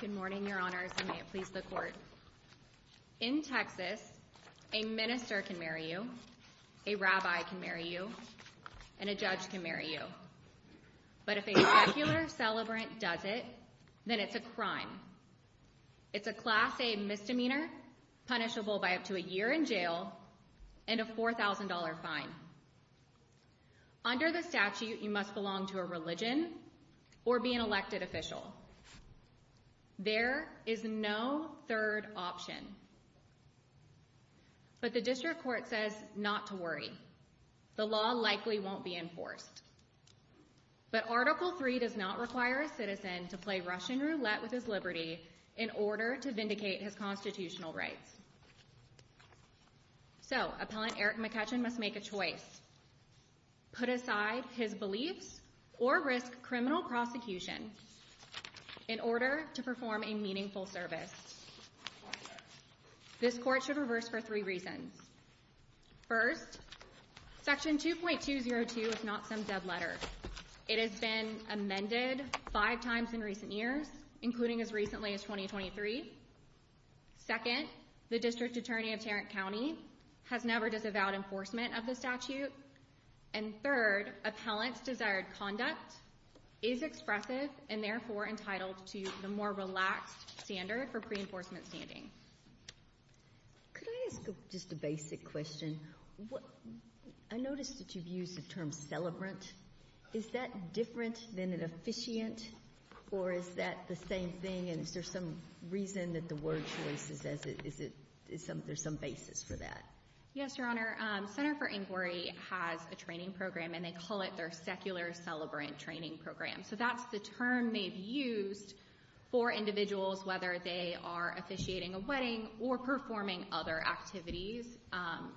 Good morning, Your Honors, and may it please the Court. In Texas, a minister can marry you, a rabbi can marry you, and a judge can marry you. But if a secular celebrant does it, then it's a crime. It's a Class A misdemeanor, punishable by up to a year in jail and a $4,000 fine. Under the statute, you must belong to a religion or be an elected official. There is no third option. But the District Court says not to worry. The law likely won't be enforced. But Article III does not require a citizen to play Russian roulette with his liberty in order to vindicate his constitutional rights. So, Appellant Eric McCutchan must make a choice. Put aside his beliefs or risk criminal prosecution in order to perform a meaningful service. This Court should reverse for three reasons. First, Section 2.202 is not some dead letter. It has been amended five times in recent years, including as recently as 2023. Second, the District Attorney of Tarrant County has never disavowed enforcement of the statute. And third, Appellant's desired conduct is expressive and therefore entitled to the more relaxed standard for pre-enforcement standing. Could I ask just a basic question? I noticed that you've used the term celebrant. Is that different than an officiant? Or is that the same thing? And is there some reason that the word choice, is there some basis for that? Yes, Your Honor. Center for Inquiry has a training program, and they call it their secular celebrant training program. So, that's the term they've used for individuals, whether they are officiating a wedding or performing other activities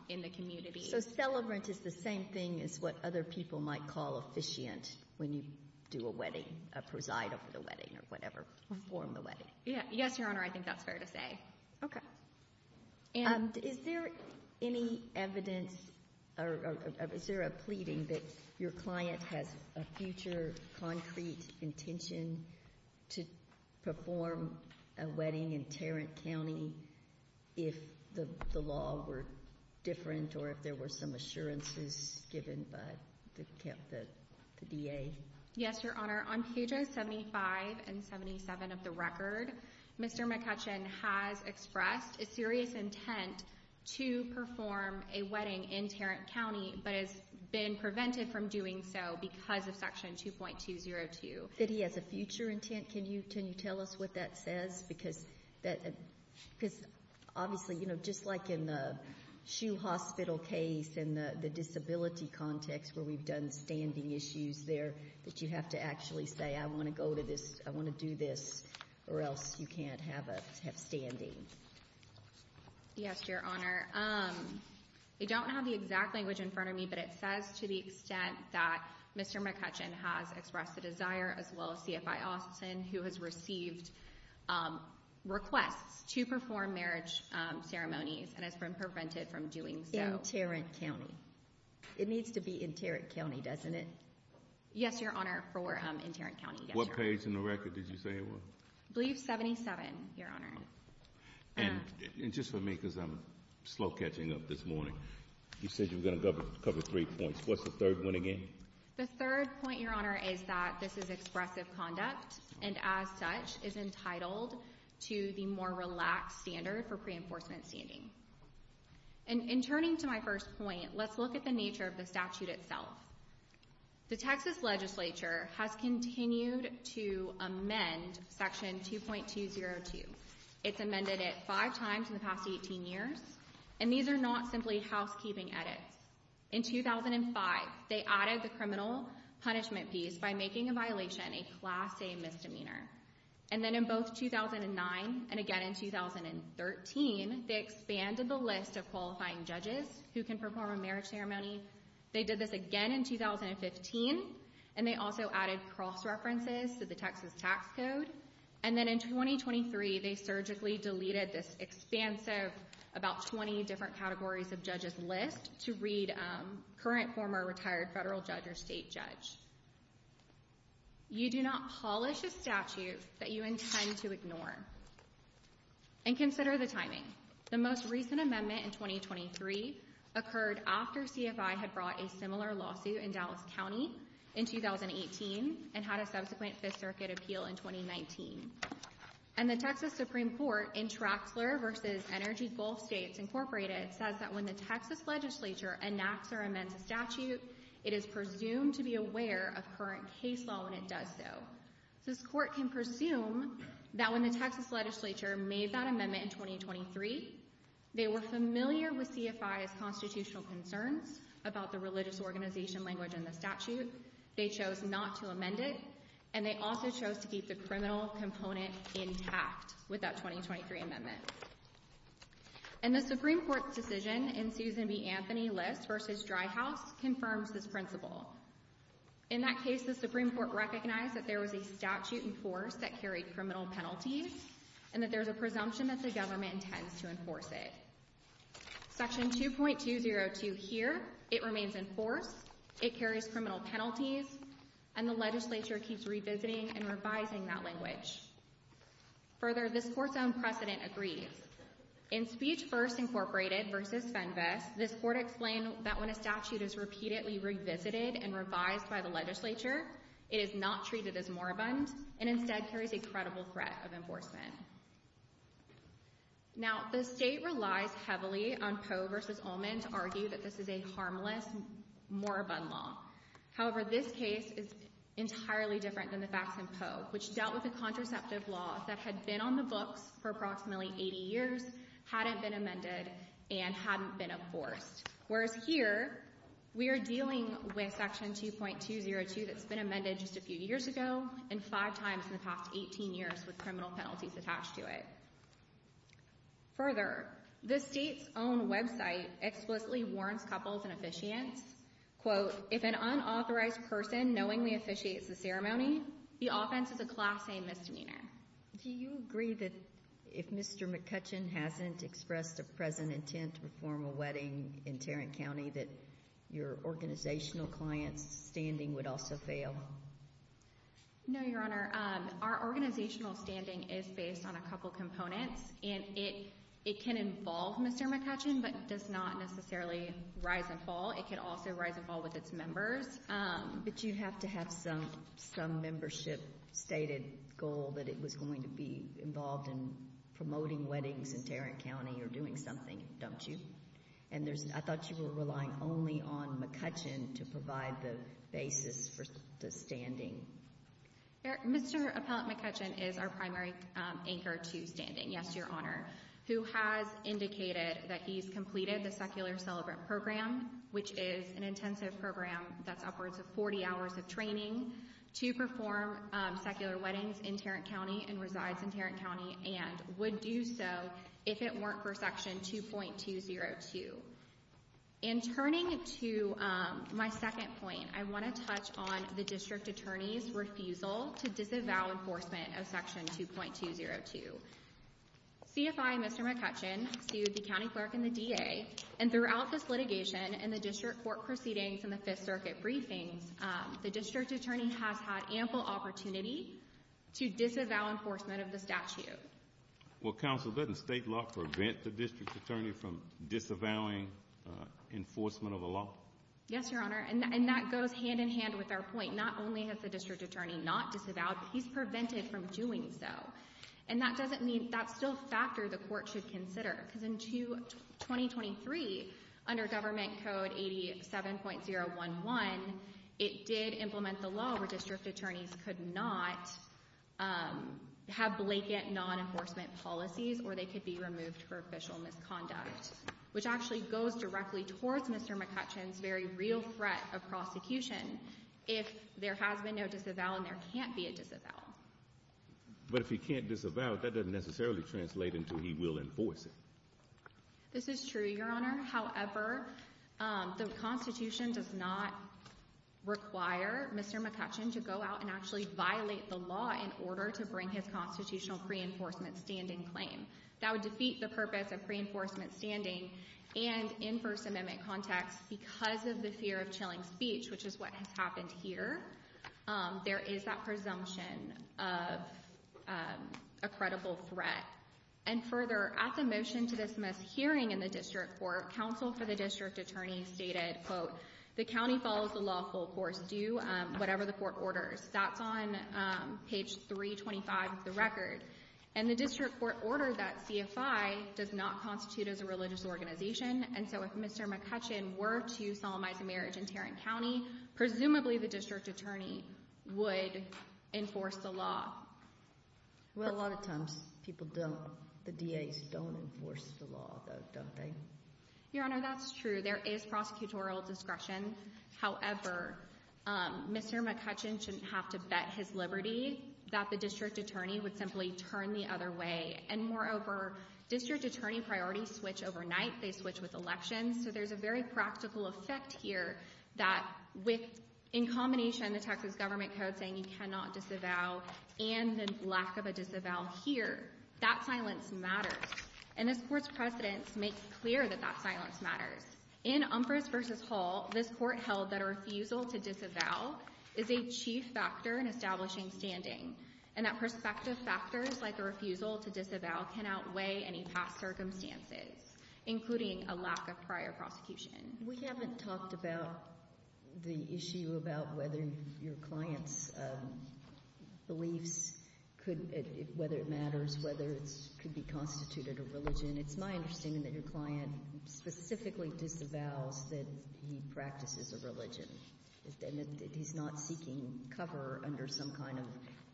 in the community. So, celebrant is the same thing as what other people might call officiant when you do a wedding, a preside over the wedding or whatever, perform the wedding. Yes, Your Honor. I think that's fair to say. Okay. Is there any evidence or is there a pleading that your client has a future concrete intention to perform a wedding in Tarrant County if the law were different or if there were some assurances given by the DA? Yes, Your Honor. On pages 75 and 77 of the record, Mr. McCutcheon has expressed a serious intent to perform a wedding in Tarrant County but has been prevented from doing so because of Section 2.202. Did he have a future intent? Can you tell us what that says? Because obviously, you know, just like in the SHU hospital case and the disability context where we've done standing issues there that you have to actually say, I want to go to this, I want to do this, or else you can't have standing. Yes, Your Honor. They don't have the exact language in front of me, but it says to the extent that Mr. McCutcheon has expressed a desire as well as CFI Austin who has received requests to perform marriage ceremonies and has been prevented from doing so. In Tarrant County. It needs to be in Tarrant County, doesn't it? Yes, Your Honor, for in Tarrant County, yes, Your Honor. What page in the record did you say it was? I believe 77, Your Honor. And just for me because I'm slow catching up this morning, you said you were going to cover three points. What's the third one again? The third point, Your Honor, is that this is expressive conduct and as such is entitled to the more relaxed standard for pre-enforcement standing. And in turning to my first point, let's look at the nature of the statute itself. The Texas Legislature has continued to amend Section 2.202. It's amended it five times in the past 18 years, and these are not simply housekeeping edits. In 2005, they added the criminal punishment piece by making a violation a Class A misdemeanor. And then in both 2009 and again in 2013, they expanded the list of qualifying judges who can perform a marriage ceremony. They did this again in 2015, and they also added cross-references to the Texas Tax Code. And then in 2023, they surgically deleted this expansive, about 20 different categories of judges list to read current, former, retired, federal judge or state judge. You do not polish a statute that you intend to ignore. And consider the timing. The most recent amendment in 2023 occurred after CFI had brought a similar lawsuit in Dallas County in 2018 and had a subsequent Fifth Circuit appeal in 2019. And the Texas Supreme Court in Traxler v. Energy Gulf States, Inc. says that when the Texas Legislature enacts or amends a statute, it is presumed to be aware of current case law when it does so. This Court can presume that when the Texas Legislature made that amendment in 2023, they were familiar with CFI's constitutional concerns about the religious organization language in the statute, they chose not to amend it, and they also chose to keep the criminal component intact with that 2023 amendment. And the Supreme Court's decision in Susan B. Anthony List v. Dry House confirms this principle. In that case, the Supreme Court recognized that there was a statute in force that carried criminal penalties and that there is a presumption that the government intends to enforce it. Section 2.202 here, it remains in force, it carries criminal penalties, and the Legislature keeps revisiting and revising that language. Further, this Court's own precedent agrees. In Speech First, Inc. v. Fenves, this Court explained that when a statute is repeatedly revisited and revised by the Legislature, it is not treated as moribund and instead carries a credible threat of enforcement. Now, the State relies heavily on Poe v. Ullman to argue that this is a harmless moribund law. However, this case is entirely different than the facts in Poe, which dealt with a contraceptive law that had been on the books for approximately 80 years, hadn't been amended, and hadn't been enforced. Whereas here, we are dealing with Section 2.202 that's been amended just a few years ago and five times in the past 18 years with criminal penalties attached to it. Further, the State's own website explicitly warns couples and officiants, quote, If an unauthorized person knowingly officiates the ceremony, the offense is a Class A Misdemeanor. Do you agree that if Mr. McCutcheon hasn't expressed a present intent to perform a wedding in Tarrant County that your organizational client's standing would also fail? No, Your Honor. Our organizational standing is based on a couple components, and it can involve Mr. McCutcheon but does not necessarily rise and fall. It can also rise and fall with its members. But you have to have some membership stated goal that it was going to be involved in promoting weddings in Tarrant County or doing something, don't you? I thought you were relying only on McCutcheon to provide the basis for the standing. Mr. Appellant McCutcheon is our primary anchor to standing, yes, Your Honor, who has indicated that he's completed the Secular Celebrant Program, which is an intensive program that's upwards of 40 hours of training to perform secular weddings in Tarrant County and resides in Tarrant County and would do so if it weren't for Section 2.202. In turning to my second point, I want to touch on the District Attorney's refusal to disavow enforcement of Section 2.202. CFI and Mr. McCutcheon sued the County Clerk and the DA, and throughout this litigation and the District Court proceedings and the Fifth Circuit briefings, the District Attorney has had ample opportunity to disavow enforcement of the statute. Well, Counsel, doesn't state law prevent the District Attorney from disavowing enforcement of a law? Yes, Your Honor, and that goes hand in hand with our point. Not only has the District Attorney not disavowed, but he's prevented from doing so. And that doesn't mean that's still a factor the Court should consider, because in 2023, under Government Code 87.011, it did implement the law where District Attorneys could not have blanket non-enforcement policies or they could be removed for official misconduct, which actually goes directly towards Mr. McCutcheon's very real threat of prosecution if there has been no disavowal and there can't be a disavowal. But if he can't disavow, that doesn't necessarily translate into he will enforce it. This is true, Your Honor. However, the Constitution does not require Mr. McCutcheon to go out and actually violate the law in order to bring his constitutional pre-enforcement standing claim. That would defeat the purpose of pre-enforcement standing. And in First Amendment context, because of the fear of chilling speech, which is what has happened here, there is that presumption of a credible threat. And further, at the motion to dismiss hearing in the District Court, counsel for the District Attorney stated, quote, the county follows the law full course, do whatever the court orders. That's on page 325 of the record. And the District Court ordered that CFI does not constitute as a religious organization. And so if Mr. McCutcheon were to solemnize a marriage in Tarrant County, presumably the District Attorney would enforce the law. Well, a lot of times people don't. The DAs don't enforce the law, though, don't they? Your Honor, that's true. There is prosecutorial discretion. However, Mr. McCutcheon shouldn't have to bet his liberty that the District Attorney would simply turn the other way. And moreover, District Attorney priorities switch overnight. They switch with elections. So there's a very practical effect here that with, in combination, the Texas Government Code saying you cannot disavow and the lack of a disavow here, that silence matters. And this Court's precedents make clear that that silence matters. In Umphress v. Hall, this Court held that a refusal to disavow is a chief factor in establishing standing, and that prospective factors like a refusal to disavow can outweigh any past circumstances, including a lack of prior prosecution. We haven't talked about the issue about whether your client's beliefs could – whether it matters, whether it could be constituted a religion. It's my understanding that your client specifically disavows that he practices a religion, and that he's not seeking cover under some kind of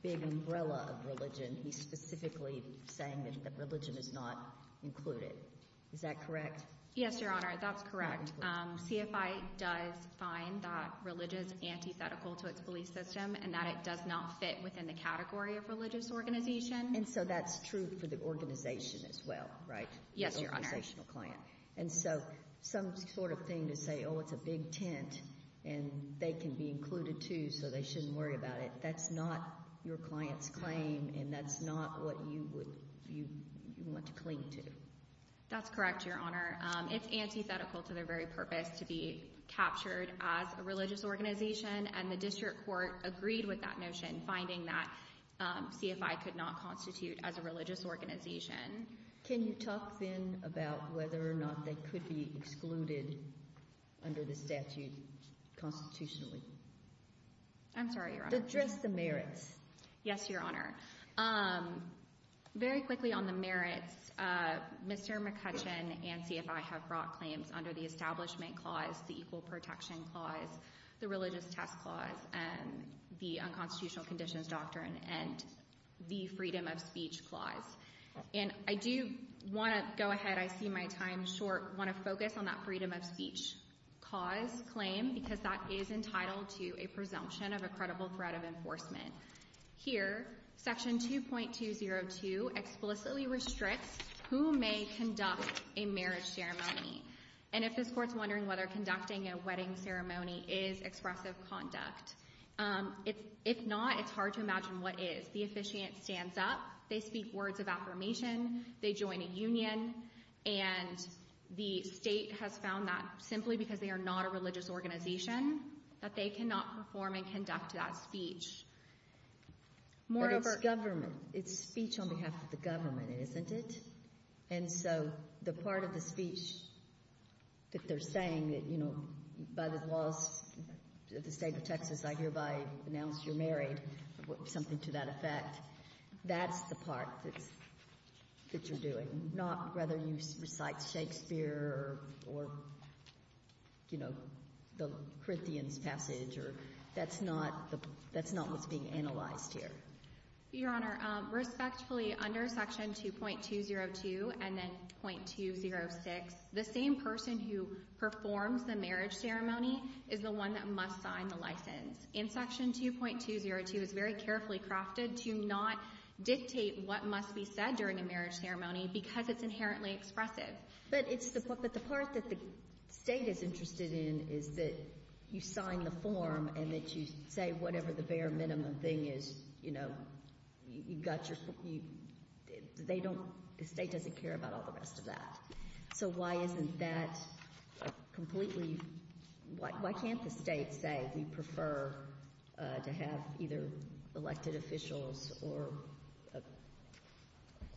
big umbrella of religion. He's specifically saying that religion is not included. Is that correct? Yes, Your Honor. That's correct. CFI does find that religion is antithetical to its belief system and that it does not fit within the category of religious organization. And so that's true for the organization as well, right? Yes, Your Honor. The organizational client. And so some sort of thing to say, oh, it's a big tent, and they can be included too, so they shouldn't worry about it. That's not your client's claim, and that's not what you would – you want to cling to. That's correct, Your Honor. It's antithetical to their very purpose to be captured as a religious organization, and the district court agreed with that notion, finding that CFI could not constitute as a religious organization. Can you talk then about whether or not they could be excluded under the statute constitutionally? I'm sorry, Your Honor. Address the merits. Yes, Your Honor. Very quickly on the merits. Mr. McCutcheon and CFI have brought claims under the Establishment Clause, the Equal Protection Clause, the Religious Test Clause, the Unconstitutional Conditions Doctrine, and the Freedom of Speech Clause. And I do want to go ahead. I see my time is short. I want to focus on that Freedom of Speech Clause claim because that is entitled to a presumption of a credible threat of enforcement. Here, Section 2.202 explicitly restricts who may conduct a marriage ceremony. And if this Court is wondering whether conducting a wedding ceremony is expressive conduct, if not, it's hard to imagine what is. The officiant stands up. They speak words of affirmation. They join a union. And the State has found that simply because they are not a religious organization that they cannot perform and conduct that speech. But it's government. It's speech on behalf of the government, isn't it? And so the part of the speech that they're saying that, you know, by the laws of the State of Texas, I hereby announce you're married, something to that effect, that's the part that you're doing, not whether you recite Shakespeare or, you know, the Corinthians passage. That's not what's being analyzed here. Your Honor, respectfully, under Section 2.202 and then 2.206, the same person who performs the marriage ceremony is the one that must sign the license. And Section 2.202 is very carefully crafted to not dictate what must be said during a marriage ceremony because it's inherently expressive. But it's the part that the State is interested in is that you sign the form and that you say whatever the bare minimum thing is, you know, you've got your — they don't — the State doesn't care about all the rest of that. So why isn't that completely — why can't the State say we prefer to have either elected officials or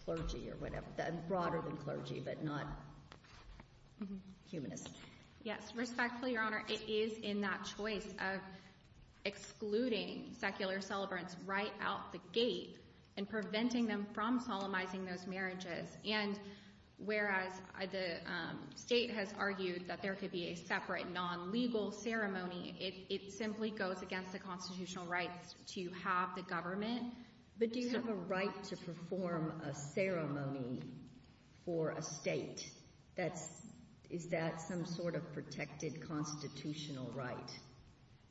clergy or whatever, broader than clergy but not humanists? Yes. Respectfully, Your Honor, it is in that choice of excluding secular celebrants right out the gate and preventing them from solemnizing those marriages. And whereas the State has argued that there could be a separate non-legal ceremony, it simply goes against the constitutional rights to have the government — But do you have a right to perform a ceremony for a State? That's — is that some sort of protected constitutional right?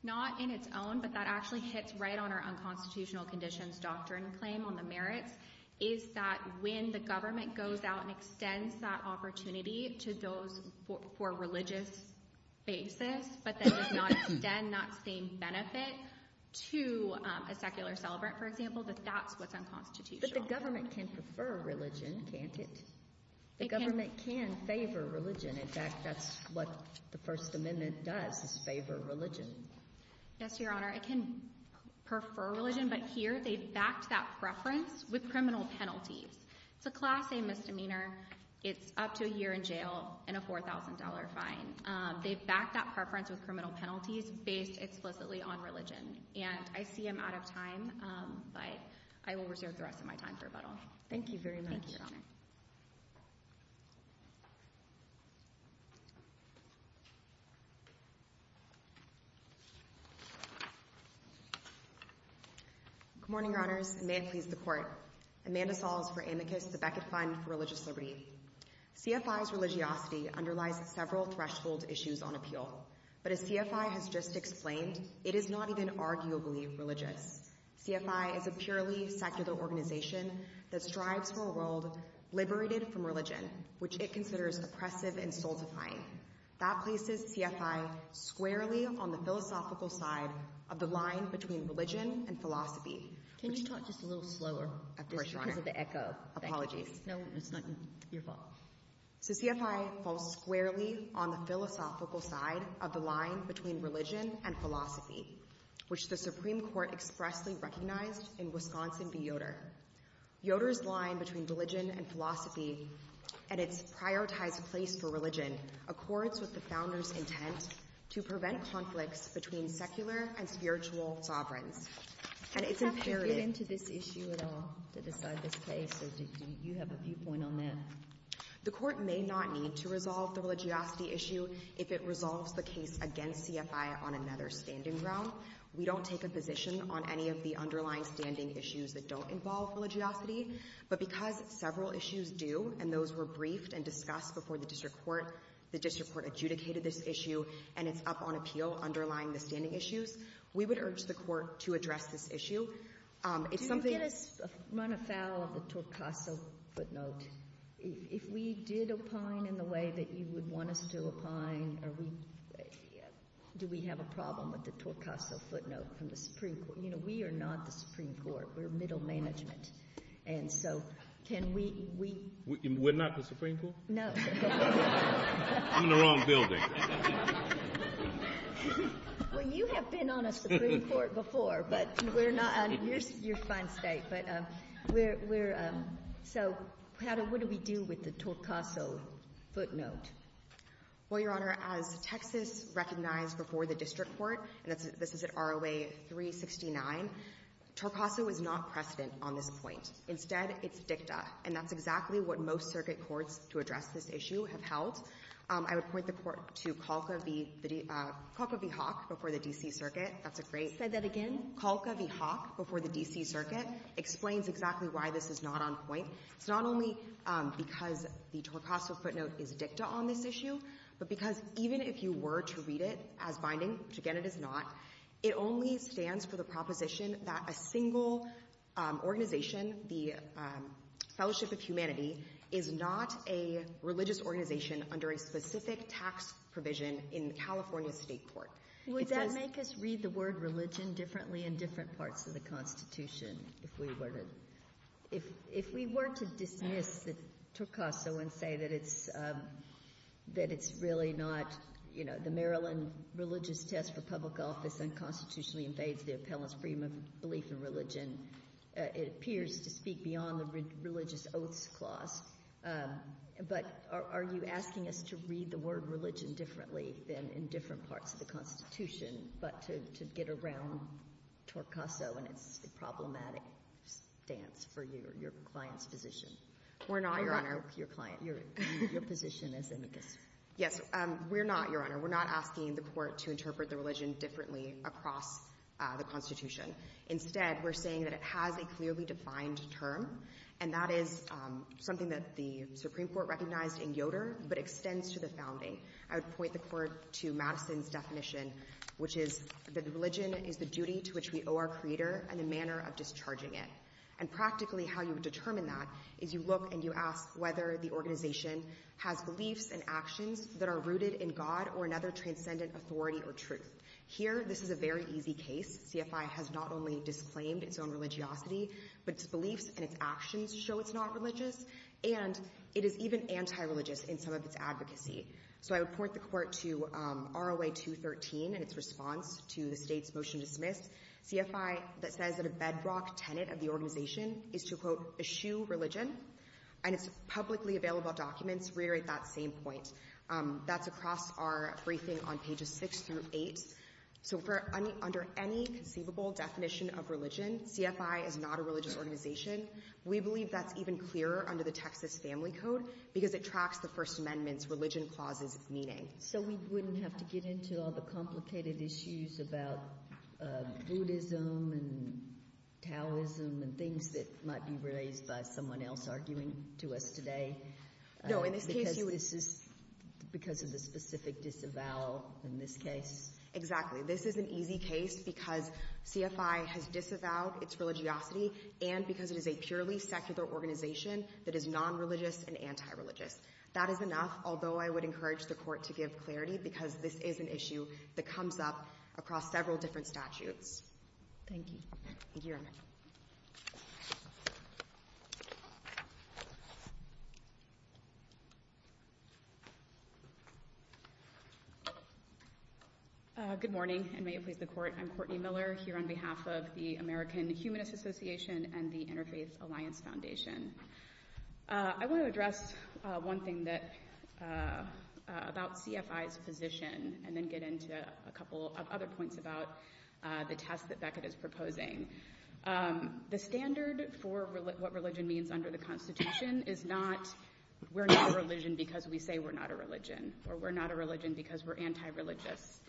Not in its own, but that actually hits right on our unconstitutional conditions doctrine claim on the merits, is that when the government goes out and extends that opportunity to those for a religious basis but then does not extend that same benefit to a secular celebrant, for example, that that's what's unconstitutional. But the government can prefer religion, can't it? The government can favor religion. In fact, that's what the First Amendment does, is favor religion. Yes, Your Honor. It can prefer religion, but here they've backed that preference with criminal penalties. It's a Class A misdemeanor. It's up to a year in jail and a $4,000 fine. They've backed that preference with criminal penalties based explicitly on religion. And I see I'm out of time, but I will reserve the rest of my time for rebuttal. Thank you very much. Good morning, Your Honors, and may it please the Court. Amanda Sauls for Amicus, the Beckett Fund for Religious Liberty. CFI's religiosity underlies several threshold issues on appeal, but as CFI has just explained, it is not even arguably religious. CFI is a purely secular organization that strives for a world liberated from religion, which it considers oppressive and soul-defying. That places CFI squarely on the philosophical side of the line between religion and philosophy. Can you talk just a little slower? Of course, Your Honor. It's because of the echo. Apologies. No, it's not your fault. So CFI falls squarely on the philosophical side of the line between religion and philosophy, which the Supreme Court expressly recognized in Wisconsin v. Yoder. Yoder's line between religion and philosophy and its prioritized place for religion accords with the Founders' intent to prevent conflicts between secular and spiritual sovereigns. Do you have to get into this issue at all to decide this case, or do you have a viewpoint on that? The Court may not need to resolve the religiosity issue if it resolves the case against CFI on another standing ground. We don't take a position on any of the underlying standing issues that don't involve religiosity. But because several issues do, and those were briefed and discussed before the district court, the district court adjudicated this issue, and it's up on appeal underlying the standing issues. We would urge the Court to address this issue. Do you get us run afoul of the Torcaso footnote? If we did opine in the way that you would want us to opine, do we have a problem with the Torcaso footnote from the Supreme Court? You know, we are not the Supreme Court. We're middle management. And so can we— We're not the Supreme Court? No. I'm in the wrong building. Well, you have been on a Supreme Court before, but we're not on your fine state. But we're — so what do we do with the Torcaso footnote? Well, Your Honor, as Texas recognized before the district court, and this is at ROA 369, Torcaso is not precedent on this point. Instead, it's dicta. And that's exactly what most circuit courts to address this issue have held. I would point the Court to Kalka v. Hawk before the D.C. Circuit. That's a great— Say that again? Kalka v. Hawk before the D.C. Circuit explains exactly why this is not on point. It's not only because the Torcaso footnote is dicta on this issue, but because even if you were to read it as binding, which, again, it is not, it only stands for the proposition that a single organization, the Fellowship of Humanity, is not a religious organization under a specific tax provision in California State Court. Would that make us read the word religion differently in different parts of the Constitution, if we were to dismiss the Torcaso and say that it's really not, you know, the Maryland religious test for public office unconstitutionally invades the appellant's freedom of belief in religion? It appears to speak beyond the religious oaths clause. But are you asking us to read the word religion differently than in different parts of the Constitution, but to get around Torcaso and its problematic stance for your client's position? We're not, Your Honor. Your client. Your position as amicus. Yes. We're not, Your Honor. We're not asking the Court to interpret the religion differently across the Constitution. Instead, we're saying that it has a clearly defined term, and that is something that the Supreme Court recognized in Yoder, but extends to the founding. I would point the Court to Madison's definition, which is that religion is the duty to which we owe our Creator and the manner of discharging it. And practically, how you would determine that is you look and you ask whether the organization has beliefs and actions that are rooted in God or another transcendent authority or truth. Here, this is a very easy case. CFI has not only disclaimed its own religiosity, but its beliefs and its actions show it's not religious, and it is even anti-religious in some of its advocacy. So I would point the Court to ROA 213 and its response to the State's motion to dismiss, CFI that says that a bedrock tenet of the organization is to, quote, eschew religion, and its publicly available documents reiterate that same point. That's across our briefing on pages 6 through 8. So under any conceivable definition of religion, CFI is not a religious organization. We believe that's even clearer under the Texas Family Code because it tracks the First Amendment's religion clauses meaning. So we wouldn't have to get into all the complicated issues about Buddhism and Taoism and things that might be raised by someone else arguing to us today because of the specific disavowal in this case? Exactly. This is an easy case because CFI has disavowed its religiosity and because it is a purely secular organization that is nonreligious and anti-religious. That is enough, although I would encourage the Court to give clarity because this is an issue that comes up across several different statutes. Thank you. Thank you, Your Honor. Good morning, and may it please the Court. I'm Courtney Miller here on behalf of the American Humanist Association and the Interfaith Alliance Foundation. I want to address one thing about CFI's position and then get into a couple of other points about the test that Beckett is proposing. The standard for what religion means under the Constitution is not we're not religion because we say we're not a religion or we're not a religion because we're anti-religious.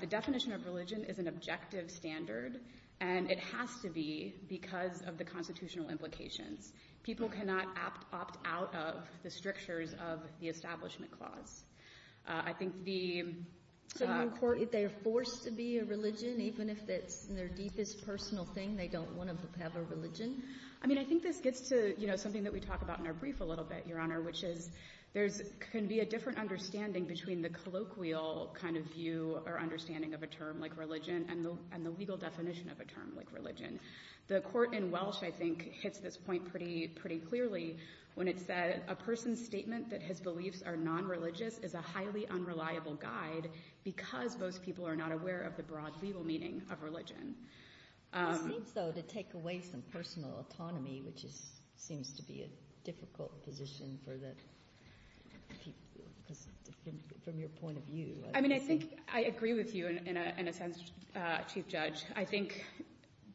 The definition of religion is an objective standard, and it has to be because of the constitutional implications. People cannot opt out of the strictures of the Establishment Clause. I think the — So in court, if they are forced to be a religion, even if it's their deepest personal thing, they don't want to have a religion? I mean, I think this gets to, you know, something that we talk about in our brief a little bit, Your Honor, which is there can be a different understanding between the colloquial kind of view or understanding of a term like religion and the legal definition of a term like religion. The Court in Welsh, I think, hits this point pretty clearly when it said a person's statement that his beliefs are nonreligious is a highly unreliable guide because most people are not aware of the broad legal meaning of religion. It seems, though, to take away some personal autonomy, which seems to be a difficult position for the people, because from your point of view. I mean, I think I agree with you in a sense, Chief Judge. I think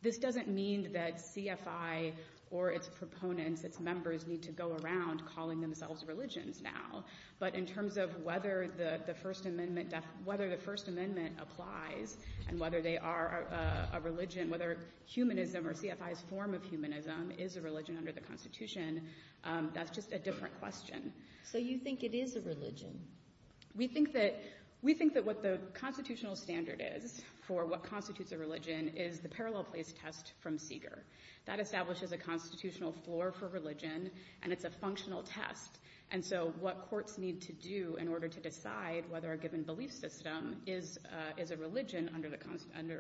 this doesn't mean that CFI or its proponents, its members, need to go around calling themselves religions now. But in terms of whether the First Amendment applies and whether they are a religion, whether humanism or CFI's form of humanism is a religion under the Constitution, that's just a different question. So you think it is a religion? We think that what the constitutional standard is for what constitutes a religion is the parallel place test from Seeger. That establishes a constitutional floor for religion, and it's a functional test. And so what courts need to do in order to decide whether a given belief system is a religion under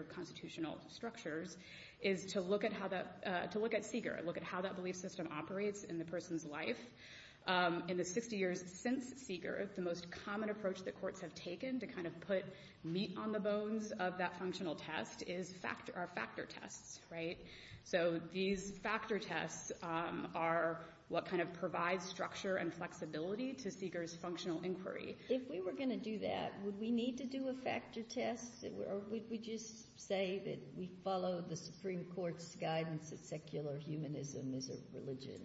constitutional structures is to look at Seeger, look at how that belief system operates in the person's life. In the 60 years since Seeger, the most common approach that courts have taken to kind of put meat on the bones of that functional test are factor tests. Right? So these factor tests are what kind of provides structure and flexibility to Seeger's functional inquiry. If we were going to do that, would we need to do a factor test, or would we just say that we follow the Supreme Court's guidance that secular humanism is a religion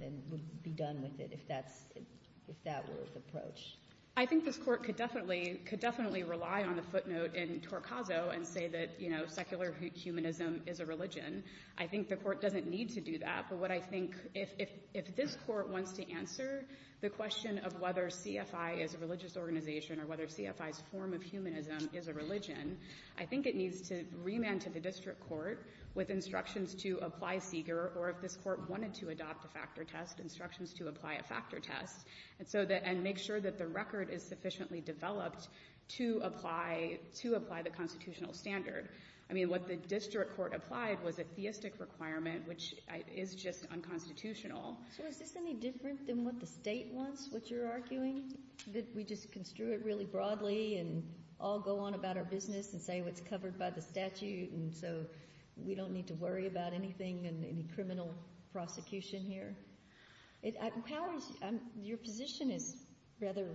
and would be done with it if that were the approach? I think this Court could definitely rely on the footnote in Torcaso and say that, you know, secular humanism is a religion. I think the Court doesn't need to do that. But what I think, if this Court wants to answer the question of whether CFI is a religious organization or whether CFI's form of humanism is a religion, I think it needs to remand to the district court with instructions to apply Seeger, or if this Court wanted to adopt a factor test, instructions to apply a factor test, and make sure that the district court is sufficiently developed to apply the constitutional standard. I mean, what the district court applied was a theistic requirement, which is just unconstitutional. So is this any different than what the State wants, what you're arguing, that we just construe it really broadly and all go on about our business and say what's covered by the statute, and so we don't need to worry about anything and any criminal prosecution here? Your position is rather,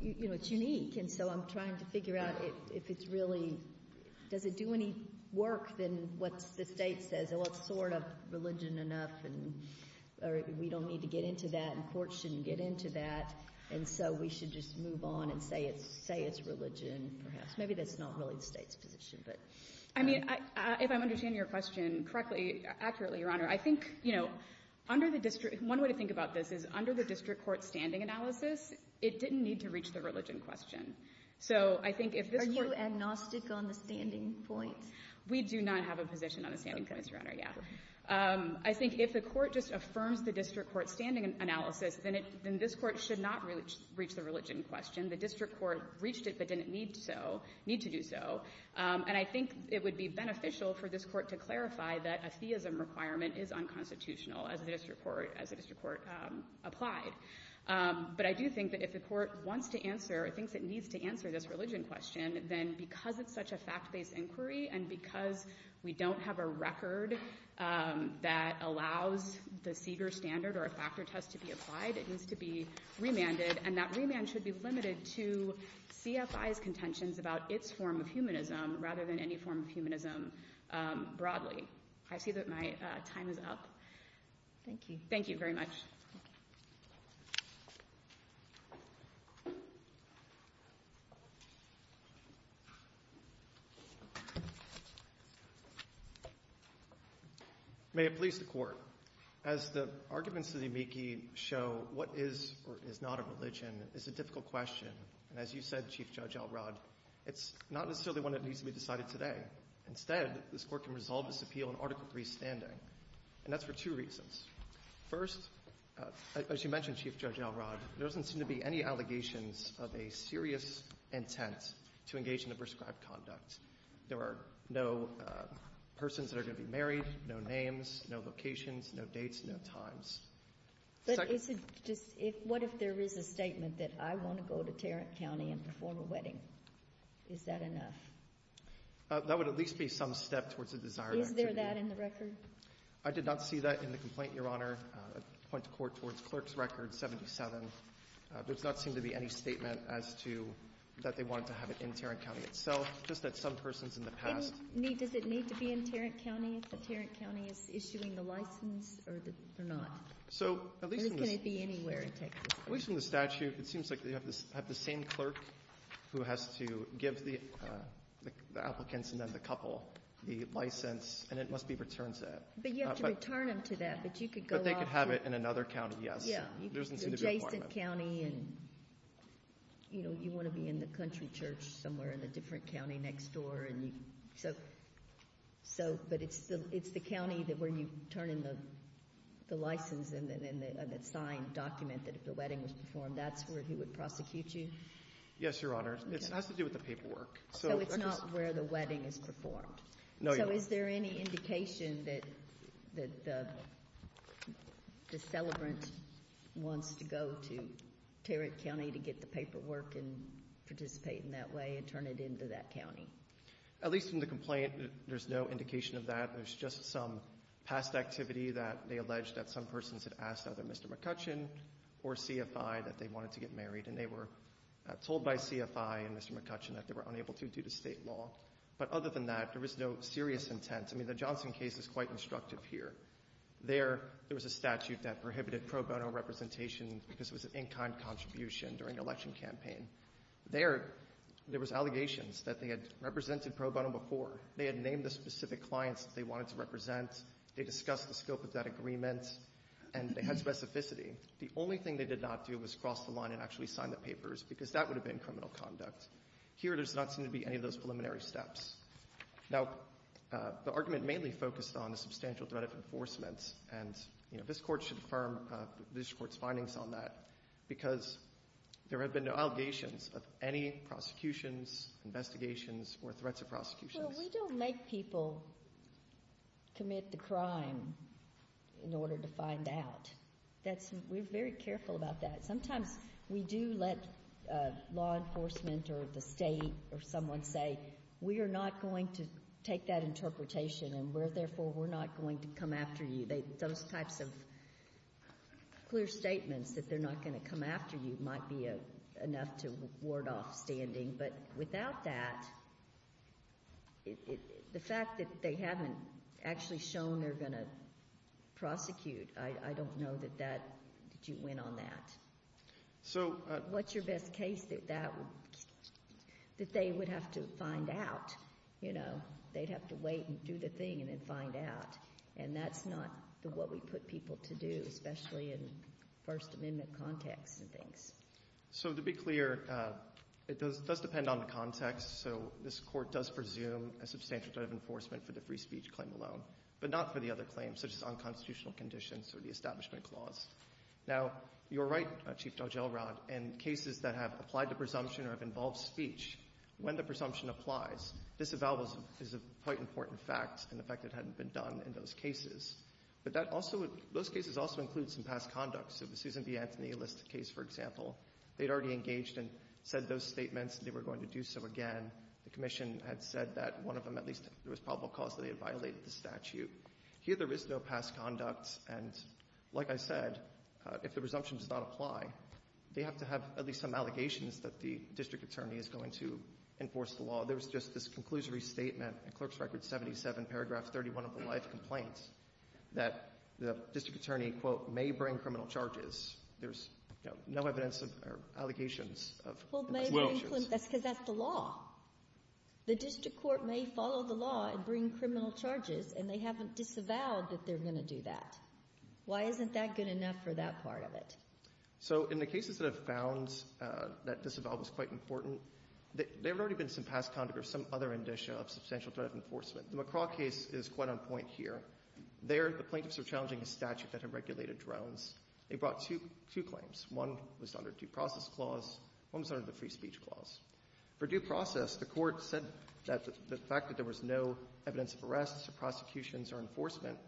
you know, it's unique. And so I'm trying to figure out if it's really — does it do any work than what the State says, oh, it's sort of religion enough, and we don't need to get into that, and the Court shouldn't get into that, and so we should just move on and say it's religion, perhaps. Maybe that's not really the State's position. I mean, if I'm understanding your question correctly, accurately, Your Honor, I think, you know, under the — one way to think about this is under the district court's standing analysis, it didn't need to reach the religion question. So I think if this Court — Are you agnostic on the standing points? We do not have a position on the standing points, Your Honor. Yeah. I think if the Court just affirms the district court's standing analysis, then this Court should not reach the religion question. The district court reached it but didn't need to do so. And I think it would be beneficial for this Court to clarify that a theism requirement is unconstitutional as the district court applied. But I do think that if the Court wants to answer or thinks it needs to answer this religion question, then because it's such a fact-based inquiry and because we don't have a record that allows the Seeger standard or a factor test to be applied, it needs to be remanded, and that remand should be limited to CFI's contentions about its form of humanism rather than any form of humanism broadly. I see that my time is up. Thank you. Thank you very much. May it please the Court. As the arguments of the amici show, what is or is not a religion is a difficult question. And as you said, Chief Judge Elrod, it's not necessarily one that needs to be decided today. Instead, this Court can resolve this appeal in Article III's standing. And that's for two reasons. First, as you mentioned, Chief Judge Elrod, there doesn't seem to be any allegations of a serious intent to engage in the prescribed conduct. There are no persons that are going to be married, no names, no locations, no dates, no times. But is it just what if there is a statement that I want to go to Tarrant County and perform a wedding? Is that enough? That would at least be some step towards a desired activity. Is there that in the record? I did not see that in the complaint, Your Honor. I point the Court towards Clerk's Record 77. There does not seem to be any statement as to that they wanted to have it in Tarrant County itself, just that some persons in the past need it. Does it need to be in Tarrant County if the Tarrant County is issuing the license or not? So at least in the statute, it seems like you have the same clerk who has to give the applicants and then the couple the license, and it must be returned to that. But you have to return them to that, but you could go off. But they could have it in another county, yes. Yeah. There doesn't seem to be a requirement. You can go to Jason County and, you know, you want to be in the country church somewhere in a different county next door, and you can so. So, but it's the county where you turn in the license and the signed document that if the wedding was performed, that's where he would prosecute you? Yes, Your Honor. It has to do with the paperwork. So it's not where the wedding is performed? No, Your Honor. So is there any indication that the celebrant wants to go to Tarrant County to get the paperwork and participate in that way and turn it into that county? At least in the complaint, there's no indication of that. There's just some past activity that they alleged that some persons had asked either Mr. McCutcheon or CFI that they wanted to get married, and they were told by CFI and Mr. McCutcheon that they were unable to due to State law. But other than that, there was no serious intent. I mean, the Johnson case is quite instructive here. There, there was a statute that prohibited pro bono representation because it was an in-kind contribution during the election campaign. There, there was allegations that they had represented pro bono before. They had named the specific clients that they wanted to represent. They discussed the scope of that agreement, and they had specificity. The only thing they did not do was cross the line and actually sign the papers because that would have been criminal conduct. Here, there does not seem to be any of those preliminary steps. Now, the argument mainly focused on a substantial threat of enforcement, and, you know, this Court should affirm the district court's findings on that because there have been no allegations of any prosecutions, investigations, or threats of prosecution. Well, we don't make people commit the crime in order to find out. That's — we're very careful about that. Sometimes we do let law enforcement or the state or someone say, we are not going to take that interpretation, and therefore we're not going to come after you. Those types of clear statements that they're not going to come after you might be enough to ward off standing. But without that, the fact that they haven't actually shown they're going to prosecute, I don't know that you went on that. What's your best case that they would have to find out? You know, they'd have to wait and do the thing and then find out. And that's not what we put people to do, especially in First Amendment context and things. So to be clear, it does depend on the context. So this Court does presume a substantial threat of enforcement for the free speech claim alone, but not for the other claims such as unconstitutional conditions or the Establishment Clause. Now, you're right, Chief Judge Elrod, in cases that have applied to presumption or have involved speech, when the presumption applies, disavowal is a quite important fact in the fact that it hadn't been done in those cases. But that also — those cases also include some past conduct. So the Susan B. Anthony List case, for example, they'd already engaged and said those statements and they were going to do so again. The Commission had said that one of them, at least there was probable cause that they had violated the statute. Here there is no past conduct. And like I said, if the presumption does not apply, they have to have at least some allegations that the district attorney is going to enforce the law. There's just this conclusory statement in Clerk's Record 77, paragraph 31 of the life complaint, that the district attorney, quote, may bring criminal charges. There's, you know, no evidence of allegations of — Well, may bring — that's because that's the law. The district court may follow the law and bring criminal charges, and they haven't disavowed that they're going to do that. Why isn't that good enough for that part of it? So in the cases that have found that disavowal was quite important, there had already been some past conduct or some other indicia of substantial threat of enforcement. The McCraw case is quite on point here. There the plaintiffs are challenging a statute that had regulated drones. They brought two claims. One was under due process clause. One was under the free speech clause. For due process, the Court said that the fact that there was no evidence of arrests or prosecutions or enforcement,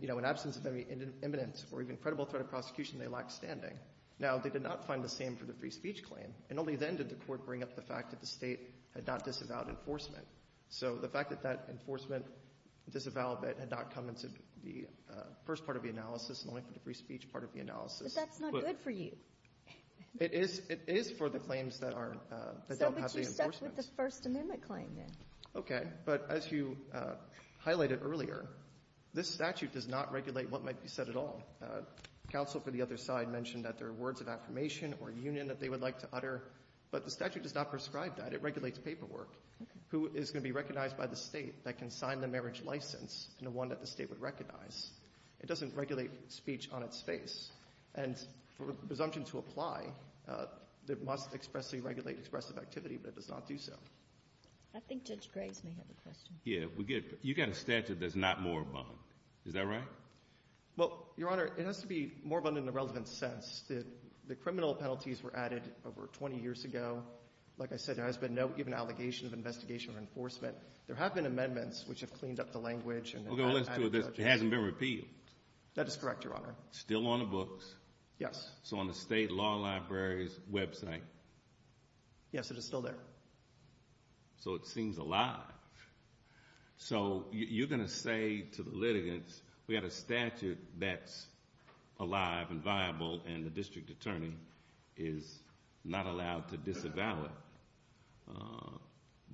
you know, in absence of any evidence or even credible threat of prosecution, they lacked standing. Now, they did not find the same for the free speech claim. And only then did the Court bring up the fact that the State had not disavowed enforcement. So the fact that that enforcement disavowal had not come into the first part of the analysis and only for the free speech part of the analysis — But that's not good for you. It is — it is for the claims that are — that don't have the enforcement. So but you stuck with the First Amendment claim, then. Okay. But as you highlighted earlier, this statute does not regulate what might be said at all. Counsel for the other side mentioned that there are words of affirmation or union that they would like to utter, but the statute does not prescribe that. It regulates paperwork. Okay. Who is going to be recognized by the State that can sign the marriage license and the one that the State would recognize. It doesn't regulate speech on its face. And for a presumption to apply, it must expressly regulate expressive activity, but it does not do so. I think Judge Graves may have a question. Yeah. You've got a statute that's not moribund. Is that right? Well, Your Honor, it has to be moribund in the relevant sense. The criminal penalties were added over 20 years ago. Like I said, there has been no given allegation of investigation or enforcement. There have been amendments which have cleaned up the language and — We're going to listen to it. It hasn't been repealed. That is correct, Your Honor. Still on the books? Yes. So on the State Law Library's website? Yes, it is still there. So it seems alive. So you're going to say to the litigants, we've got a statute that's alive and viable, and the district attorney is not allowed to disavow it,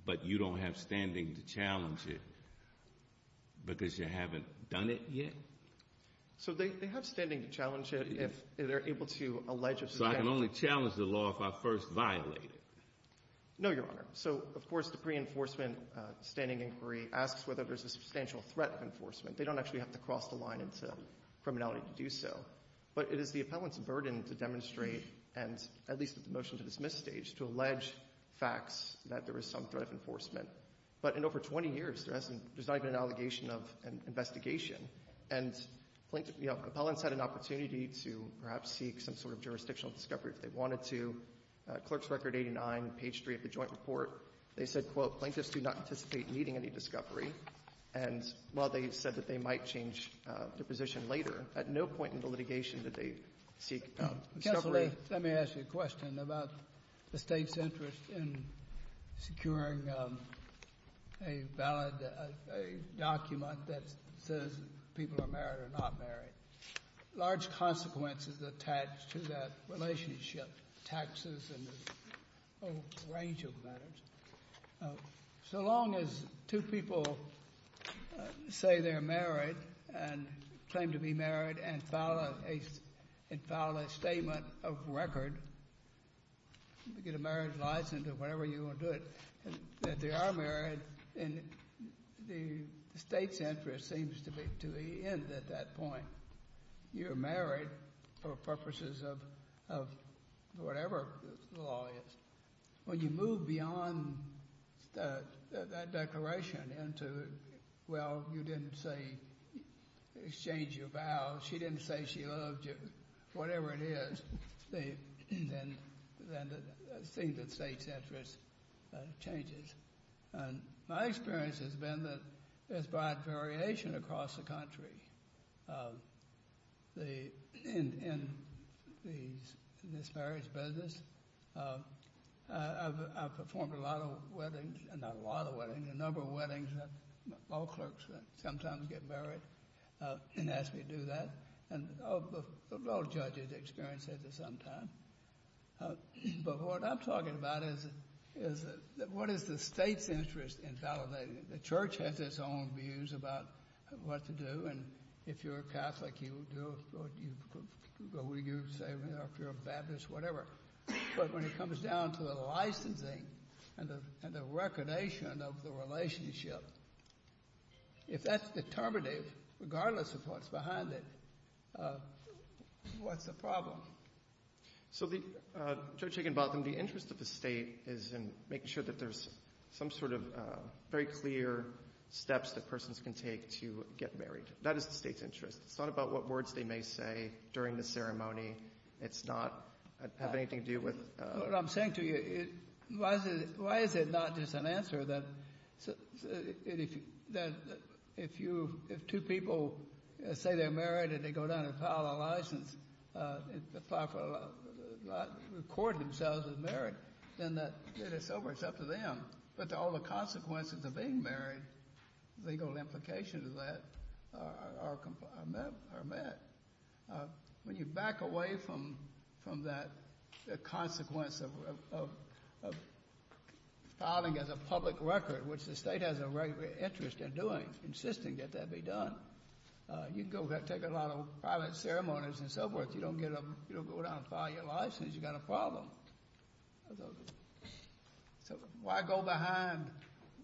but you don't have standing to challenge it because you haven't done it yet? So they have standing to challenge it if they're able to allege it. So I can only challenge the law if I first violate it? No, Your Honor. So, of course, the pre-enforcement standing inquiry asks whether there's a substantial threat of enforcement. They don't actually have to cross the line into criminality to do so. But it is the appellant's burden to demonstrate, and at least with the motion to dismiss stage, to allege facts that there is some threat of enforcement. But in over 20 years, there's not even an allegation of investigation. And, you know, appellants had an opportunity to perhaps seek some sort of jurisdictional discovery if they wanted to. Clerk's Record 89, page 3 of the joint report, they said, quote, plaintiffs do not anticipate needing any discovery. And while they said that they might change their position later, at no point in the litigation did they seek discovery. Let me ask you a question about the State's interest in securing a valid document that says people are married or not married. Large consequences attached to that relationship, taxes and a whole range of matters. So long as two people say they're married and claim to be married and file a statement of record, get a marriage license or whatever you want to do it, that they are married, the State's interest seems to end at that point. You're married for purposes of whatever the law is. When you move beyond that declaration into, well, you didn't say exchange your vows, she didn't say she loved you, whatever it is, then the State's interest changes. My experience has been that there's broad variation across the country in this marriage business. I've performed a lot of weddings, not a lot of weddings, a number of weddings, all clerks sometimes get married and ask me to do that. And all judges experience it at some time. But what I'm talking about is what is the State's interest in validating it? The Church has its own views about what to do, and if you're a Catholic, you do it, or you say if you're a Baptist, whatever. But when it comes down to the licensing and the recognition of the relationship, if that's determinative, regardless of what's behind it, what's the problem? So, Judge Higginbotham, the interest of the State is in making sure that there's some sort of very clear steps that persons can take to get married. That is the State's interest. It's not about what words they may say during the ceremony. It's not have anything to do with... What I'm saying to you, why is it not just an answer that if two people say they're married and they go down and file a license, record themselves as married, then it's over. It's up to them. But all the consequences of being married, legal implications of that, are met. When you back away from that consequence of filing as a public record, which the State has a regular interest in doing, insisting that that be done, you can go take a lot of private ceremonies and so forth. You don't go down and file your license. You've got a problem. So why go behind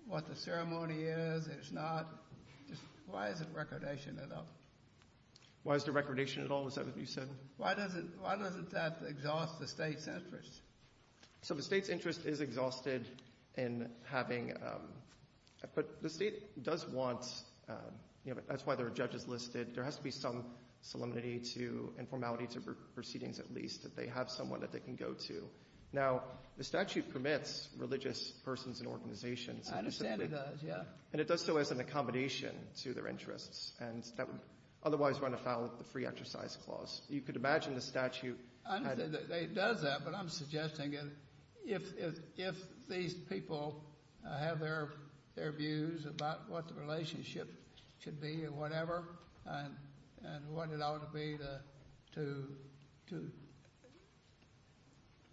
what the ceremony is? It's not... Why is it recordation at all? Why is there recordation at all? Is that what you said? Why doesn't that exhaust the State's interest? So the State's interest is exhausted in having... But the State does want... That's why there are judges listed. There has to be some solemnity to and formality to proceedings, at least, that they have someone that they can go to. Now, the statute permits religious persons and organizations. I understand it does, yeah. And it does so as an accommodation to their interests. And that would otherwise run afoul of the free exercise clause. You could imagine the statute... I understand that it does that, but I'm suggesting if these people have their views about what the relationship should be or whatever, and what it ought to be to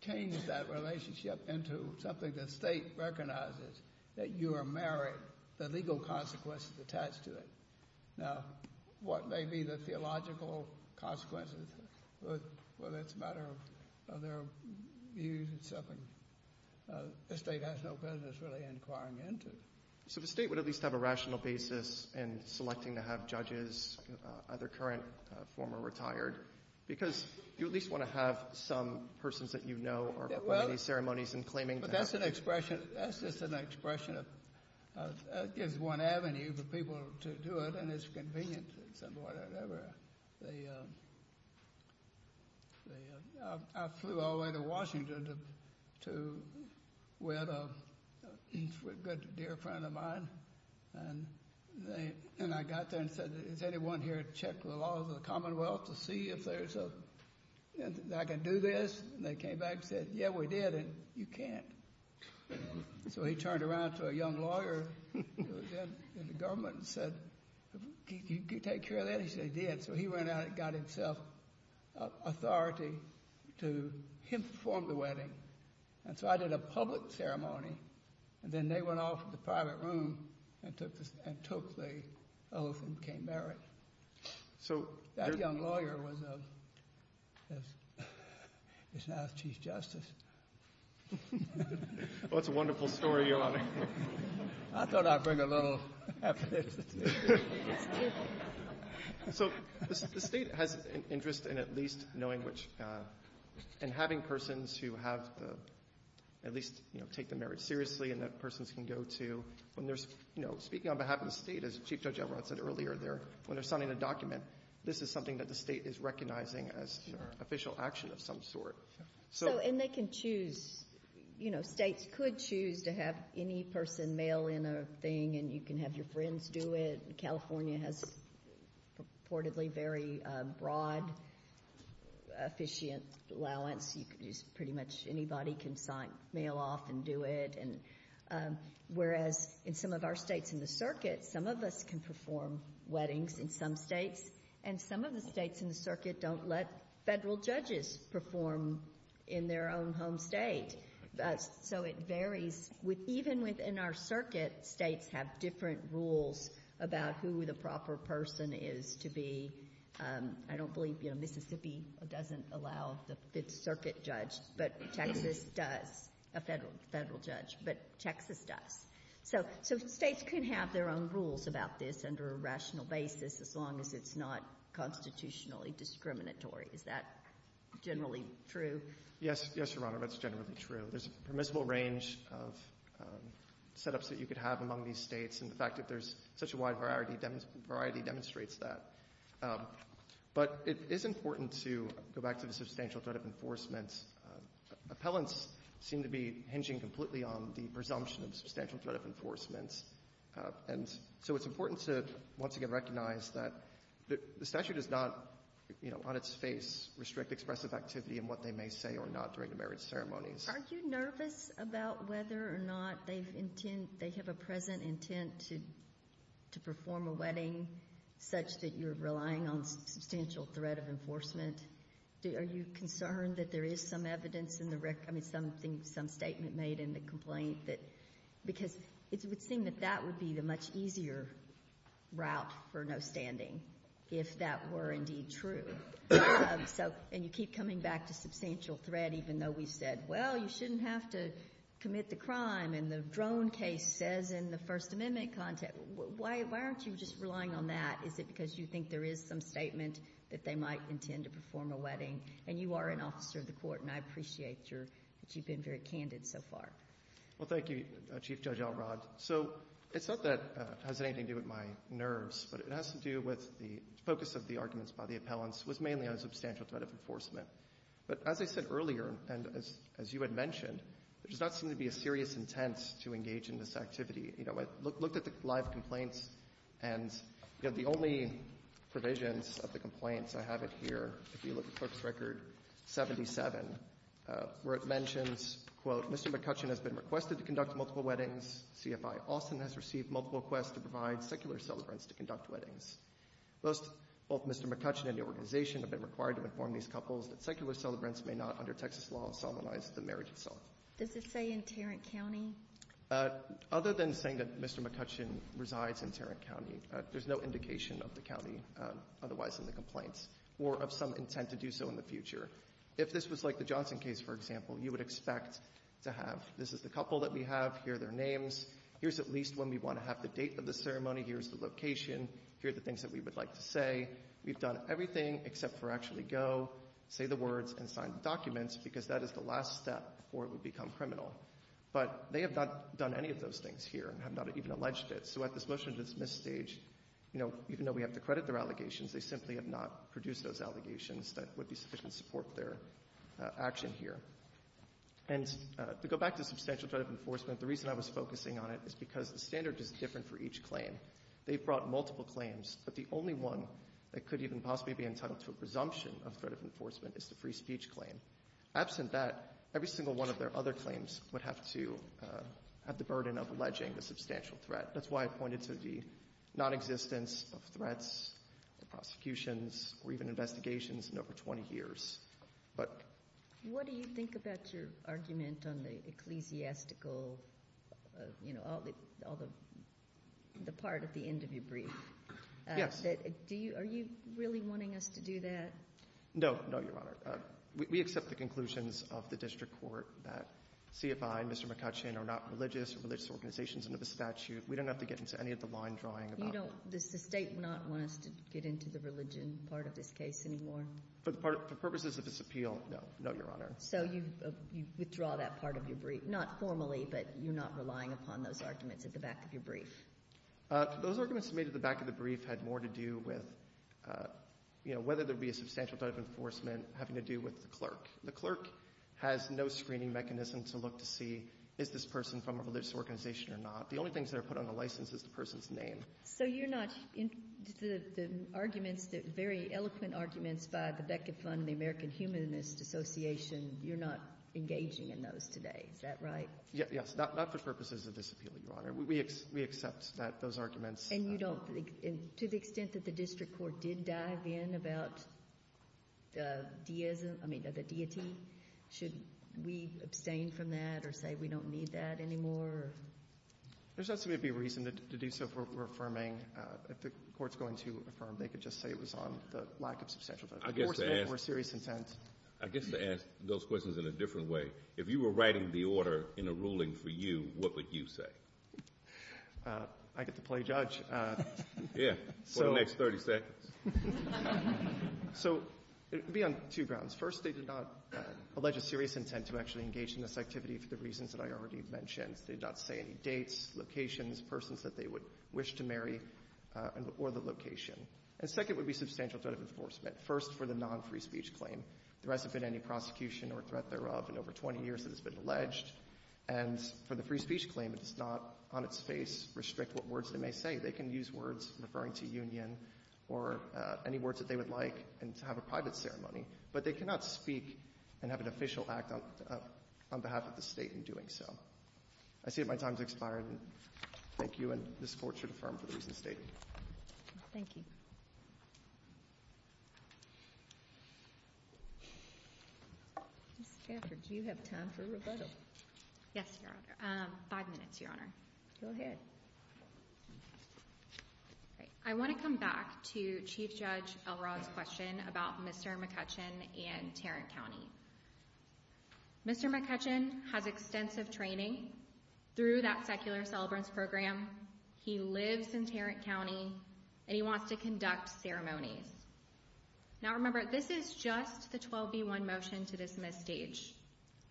change that relationship into something the State recognizes, that you are married, the legal consequences attached to it. Now, what may be the theological consequences, whether it's a matter of their views, it's something the State has no business really inquiring into. So the State would at least have a rational basis in selecting to have judges, either current, former, retired, because you at least want to have some persons that you know are part of these ceremonies and claiming to have... That's just an expression that gives one avenue for people to do it, and it's convenient. I flew all the way to Washington with a good dear friend of mine, and I got there and said, is anyone here to check the laws of the Commonwealth to see if I can do this? And they came back and said, yeah, we did, and you can't. So he turned around to a young lawyer who was in the government and said, can you take care of that? He said, I did. So he went out and got himself authority to inform the wedding. And so I did a public ceremony, and then they went off to the private room and took the oath and became married. That young lawyer is now the Chief Justice. Well, that's a wonderful story, Your Honor. I thought I'd bring a little happiness. So the State has an interest in at least knowing which and having persons who have at least take the marriage seriously and that persons can go to when they're speaking on behalf of the State, as Chief Judge Elrod said earlier, when they're signing a document, this is something that the State is recognizing as official action of some sort. And they can choose. States could choose to have any person mail in a thing, and you can have your friends do it. California has purportedly very broad officiant allowance. Pretty much anybody can mail off and do it. Whereas in some of our states in the circuit, some of us can perform weddings in some states, and some of the states in the circuit don't let federal judges perform in their own home state. So it varies. Even within our circuit, states have different rules about who the proper person is to be. I don't believe Mississippi doesn't allow the circuit judge, but Texas does, a federal judge, but Texas does. So states can have their own rules about this under a rational basis as long as it's not constitutionally discriminatory. Is that generally true? Yes, Your Honor. That's generally true. There's a permissible range of setups that you could have among these states, and the fact that there's such a wide variety demonstrates that. But it is important to go back to the substantial threat of enforcement. Appellants seem to be hinging completely on the presumption of substantial threat of enforcement. And so it's important to once again recognize that the statute does not, you know, on its face restrict expressive activity in what they may say or not during the marriage ceremonies. Are you nervous about whether or not they have a present intent to perform a wedding such that you're relying on substantial threat of enforcement? Are you concerned that there is some evidence in the record, I mean, some statement made in the complaint? Because it would seem that that would be the much easier route for no standing if that were indeed true. And you keep coming back to substantial threat even though we've said, well, you shouldn't have to commit the crime, and the drone case says in the First Amendment context, why aren't you just relying on that? Is it because you think there is some statement that they might intend to perform a wedding? And you are an officer of the Court, and I appreciate your – that you've been very candid so far. Well, thank you, Chief Judge Elrod. So it's not that it has anything to do with my nerves, but it has to do with the focus of the arguments by the appellants was mainly on substantial threat of enforcement. But as I said earlier, and as you had mentioned, there does not seem to be a serious intent to engage in this activity. You know, I looked at the live complaints, and the only provisions of the complaints I have it here, if you look at Clerk's Record 77, where it mentions, quote, Mr. McCutcheon has been requested to conduct multiple weddings. CFI Austin has received multiple requests to provide secular celebrants to conduct weddings. Both Mr. McCutcheon and the organization have been required to inform these couples that secular celebrants may not, under Texas law, solemnize the marriage itself. Does it say in Tarrant County? Other than saying that Mr. McCutcheon resides in Tarrant County, there's no indication of the county otherwise in the complaints or of some intent to do so in the future. If this was like the Johnson case, for example, you would expect to have, this is the couple that we have. Here are their names. Here's at least when we want to have the date of the ceremony. Here's the location. Here are the things that we would like to say. We've done everything except for actually go, say the words, and sign the documents, because that is the last step before it would become criminal. But they have not done any of those things here and have not even alleged it. So at this motion to dismiss stage, you know, even though we have to credit their allegations, they simply have not produced those allegations that would be sufficient to support their action here. And to go back to substantial threat of enforcement, the reason I was focusing on it is because the standard is different for each claim. They've brought multiple claims, but the only one that could even possibly be entitled to a presumption of threat of enforcement is the free speech claim. Absent that, every single one of their other claims would have to have the burden of alleging the substantial threat. That's why I pointed to the nonexistence of threats, the prosecutions, or even investigations in over 20 years. But — What do you think about your argument on the ecclesiastical, you know, all the part at the end of your brief? Yes. Are you really wanting us to do that? No. No, Your Honor. We accept the conclusions of the district court that CFI and Mr. McCutcheon are not religious or religious organizations under the statute. We don't have to get into any of the line drawing about that. You don't — does the State not want us to get into the religion part of this case anymore? For purposes of this appeal, no. No, Your Honor. So you withdraw that part of your brief, not formally, but you're not relying upon those arguments at the back of your brief? Those arguments made at the back of the brief had more to do with, you know, whether there would be a substantial type of enforcement having to do with the clerk. The clerk has no screening mechanism to look to see is this person from a religious organization or not. The only things that are put on the license is the person's name. So you're not — the arguments, the very eloquent arguments by the Beckett Fund and the American Humanist Association, you're not engaging in those today. Is that right? Yes. Not for purposes of this appeal, Your Honor. We accept that those arguments — And you don't — to the extent that the district court did dive in about the deism — I mean, the deity, should we abstain from that or say we don't need that anymore? There's not to me to be reasoned to do so for affirming. If the court's going to affirm, they could just say it was on the lack of substantial — I guess to ask —— enforcement or serious intent. I guess to ask those questions in a different way, if you were writing the order in a ruling for you, what would you say? I get to play judge. Yeah. For the next 30 seconds. So it would be on two grounds. First, they did not allege a serious intent to actually engage in this activity for the reasons that I already mentioned. They did not say any dates, locations, persons that they would wish to marry, or the location. And second would be substantial threat of enforcement. First, for the non-free speech claim. There hasn't been any prosecution or threat thereof in over 20 years that has been alleged. And for the free speech claim, it does not on its face restrict what words they may say. They can use words referring to union or any words that they would like and to have a private ceremony. But they cannot speak and have an official act on behalf of the State in doing so. I see that my time has expired. Thank you. And this Court should affirm for the reasons stated. Thank you. Ms. Stafford, do you have time for rebuttal? Yes, Your Honor. Five minutes, Your Honor. Go ahead. I want to come back to Chief Judge Elrod's question about Mr. McCutcheon and Tarrant County. Mr. McCutcheon has extensive training through that secular celebrants program. He lives in Tarrant County, and he wants to conduct ceremonies. Now, remember, this is just the 12b1 motion to dismiss stage.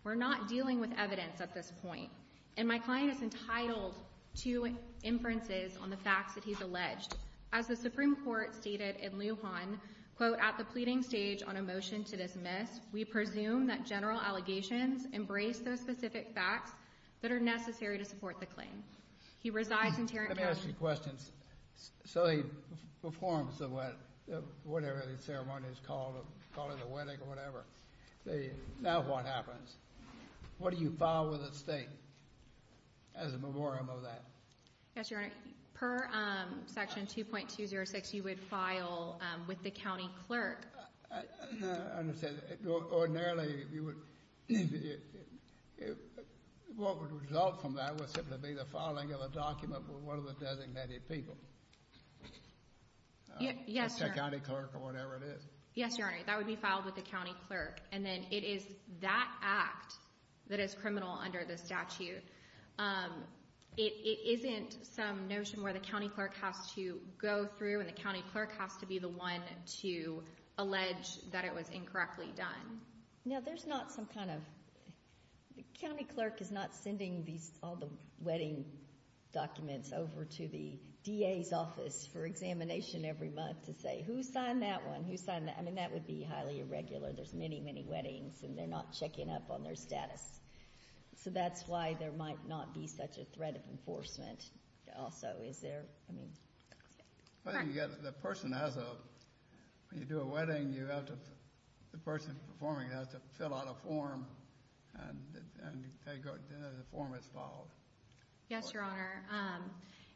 We're not dealing with evidence at this point. And my client is entitled to inferences on the facts that he's alleged. As the Supreme Court stated in Lujan, quote, at the pleading stage on a motion to dismiss, we presume that general allegations embrace those specific facts that are necessary to support the claim. He resides in Tarrant County. Let me ask you a question. So he performs whatever the ceremony is called, call it a wedding or whatever. Now what happens? What do you file with the state as a memorandum of that? Yes, Your Honor. Per Section 2.206, you would file with the county clerk. I understand. Ordinarily, what would result from that would simply be the filing of a document with one of the designated people. Yes, Your Honor. The county clerk or whatever it is. Yes, Your Honor. That would be filed with the county clerk. And then it is that act that is criminal under the statute. It isn't some notion where the county clerk has to go through and the county clerk has to be the one to allege that it was incorrectly done. Now, there's not some kind of – the county clerk is not sending all the wedding documents over to the DA's office for examination every month to say, Who signed that one? Who signed that? I mean, that would be highly irregular. There's many, many weddings and they're not checking up on their status. So that's why there might not be such a threat of enforcement. Also, is there – I mean – The person has a – when you do a wedding, you have to – the person performing it has to fill out a form and the form is filed. Yes, Your Honor.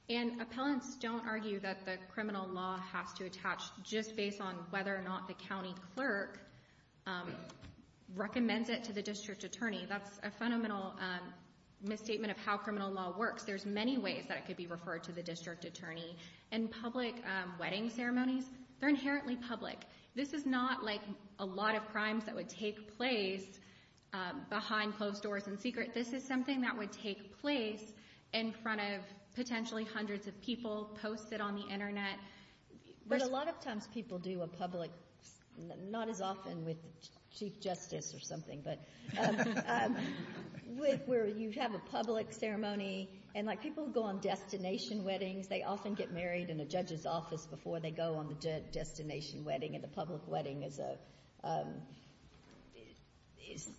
And appellants don't argue that the criminal law has to attach just based on whether or not the county clerk recommends it to the district attorney. That's a fundamental misstatement of how criminal law works. There's many ways that it could be referred to the district attorney. And public wedding ceremonies, they're inherently public. This is not like a lot of crimes that would take place behind closed doors in secret. This is something that would take place in front of potentially hundreds of people posted on the Internet. But a lot of times people do a public – not as often with the chief justice or something, but where you have a public ceremony. And like people who go on destination weddings, they often get married in a judge's office before they go on the destination wedding. And the public wedding is a –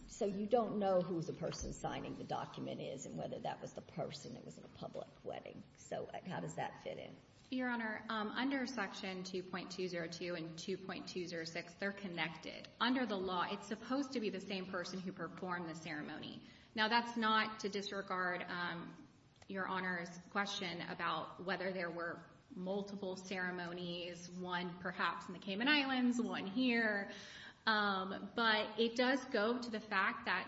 so you don't know who the person signing the document is and whether that was the person that was in a public wedding. So how does that fit in? Your Honor, under Section 2.202 and 2.206, they're connected. Under the law, it's supposed to be the same person who performed the ceremony. Now, that's not to disregard Your Honor's question about whether there were multiple ceremonies, one perhaps in the Cayman Islands, one here. But it does go to the fact that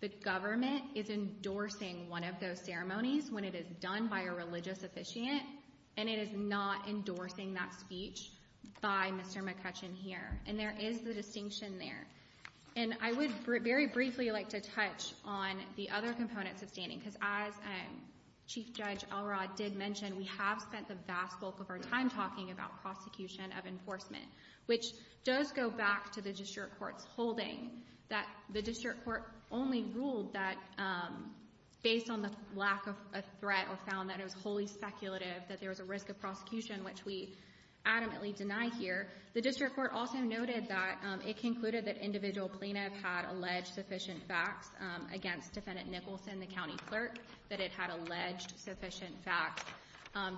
the government is endorsing one of those ceremonies when it is done by a religious officiant, and it is not endorsing that speech by Mr. McCutcheon here. And there is the distinction there. And I would very briefly like to touch on the other components of standing, because as Chief Judge Elrod did mention, we have spent the vast bulk of our time talking about prosecution of enforcement, which does go back to the district court's holding that the district court only ruled that based on the lack of a threat or found that it was wholly speculative, that there was a risk of prosecution, which we adamantly deny here. The district court also noted that it concluded that individual plaintiffs had alleged sufficient facts against Defendant Nicholson, the county clerk, that it had alleged sufficient facts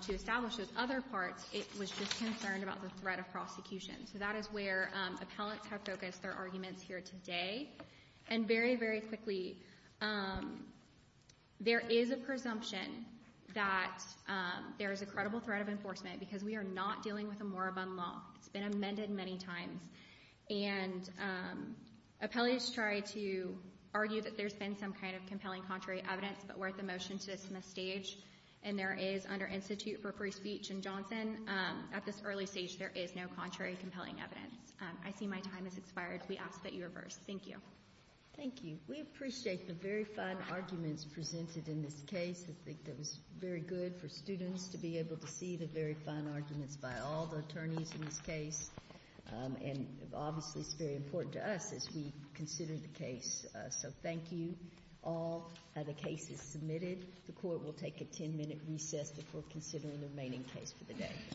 to establish those other parts. It was just concerned about the threat of prosecution. So that is where appellants have focused their arguments here today. And very, very quickly, there is a presumption that there is a credible threat of enforcement, because we are not dealing with a moribund law. It's been amended many times. And appellees try to argue that there's been some kind of compelling contrary evidence, but we're at the motion-to-dismiss stage, and there is, under Institute for Free Speech and Johnson, at this early stage there is no contrary compelling evidence. I see my time has expired. We ask that you reverse. Thank you. Thank you. We appreciate the very fine arguments presented in this case. I think it was very good for students to be able to see the very fine arguments by all the attorneys in this case. And obviously it's very important to us as we consider the case. So thank you all. The case is submitted. The Court will take a ten-minute recess before considering the remaining case for the day.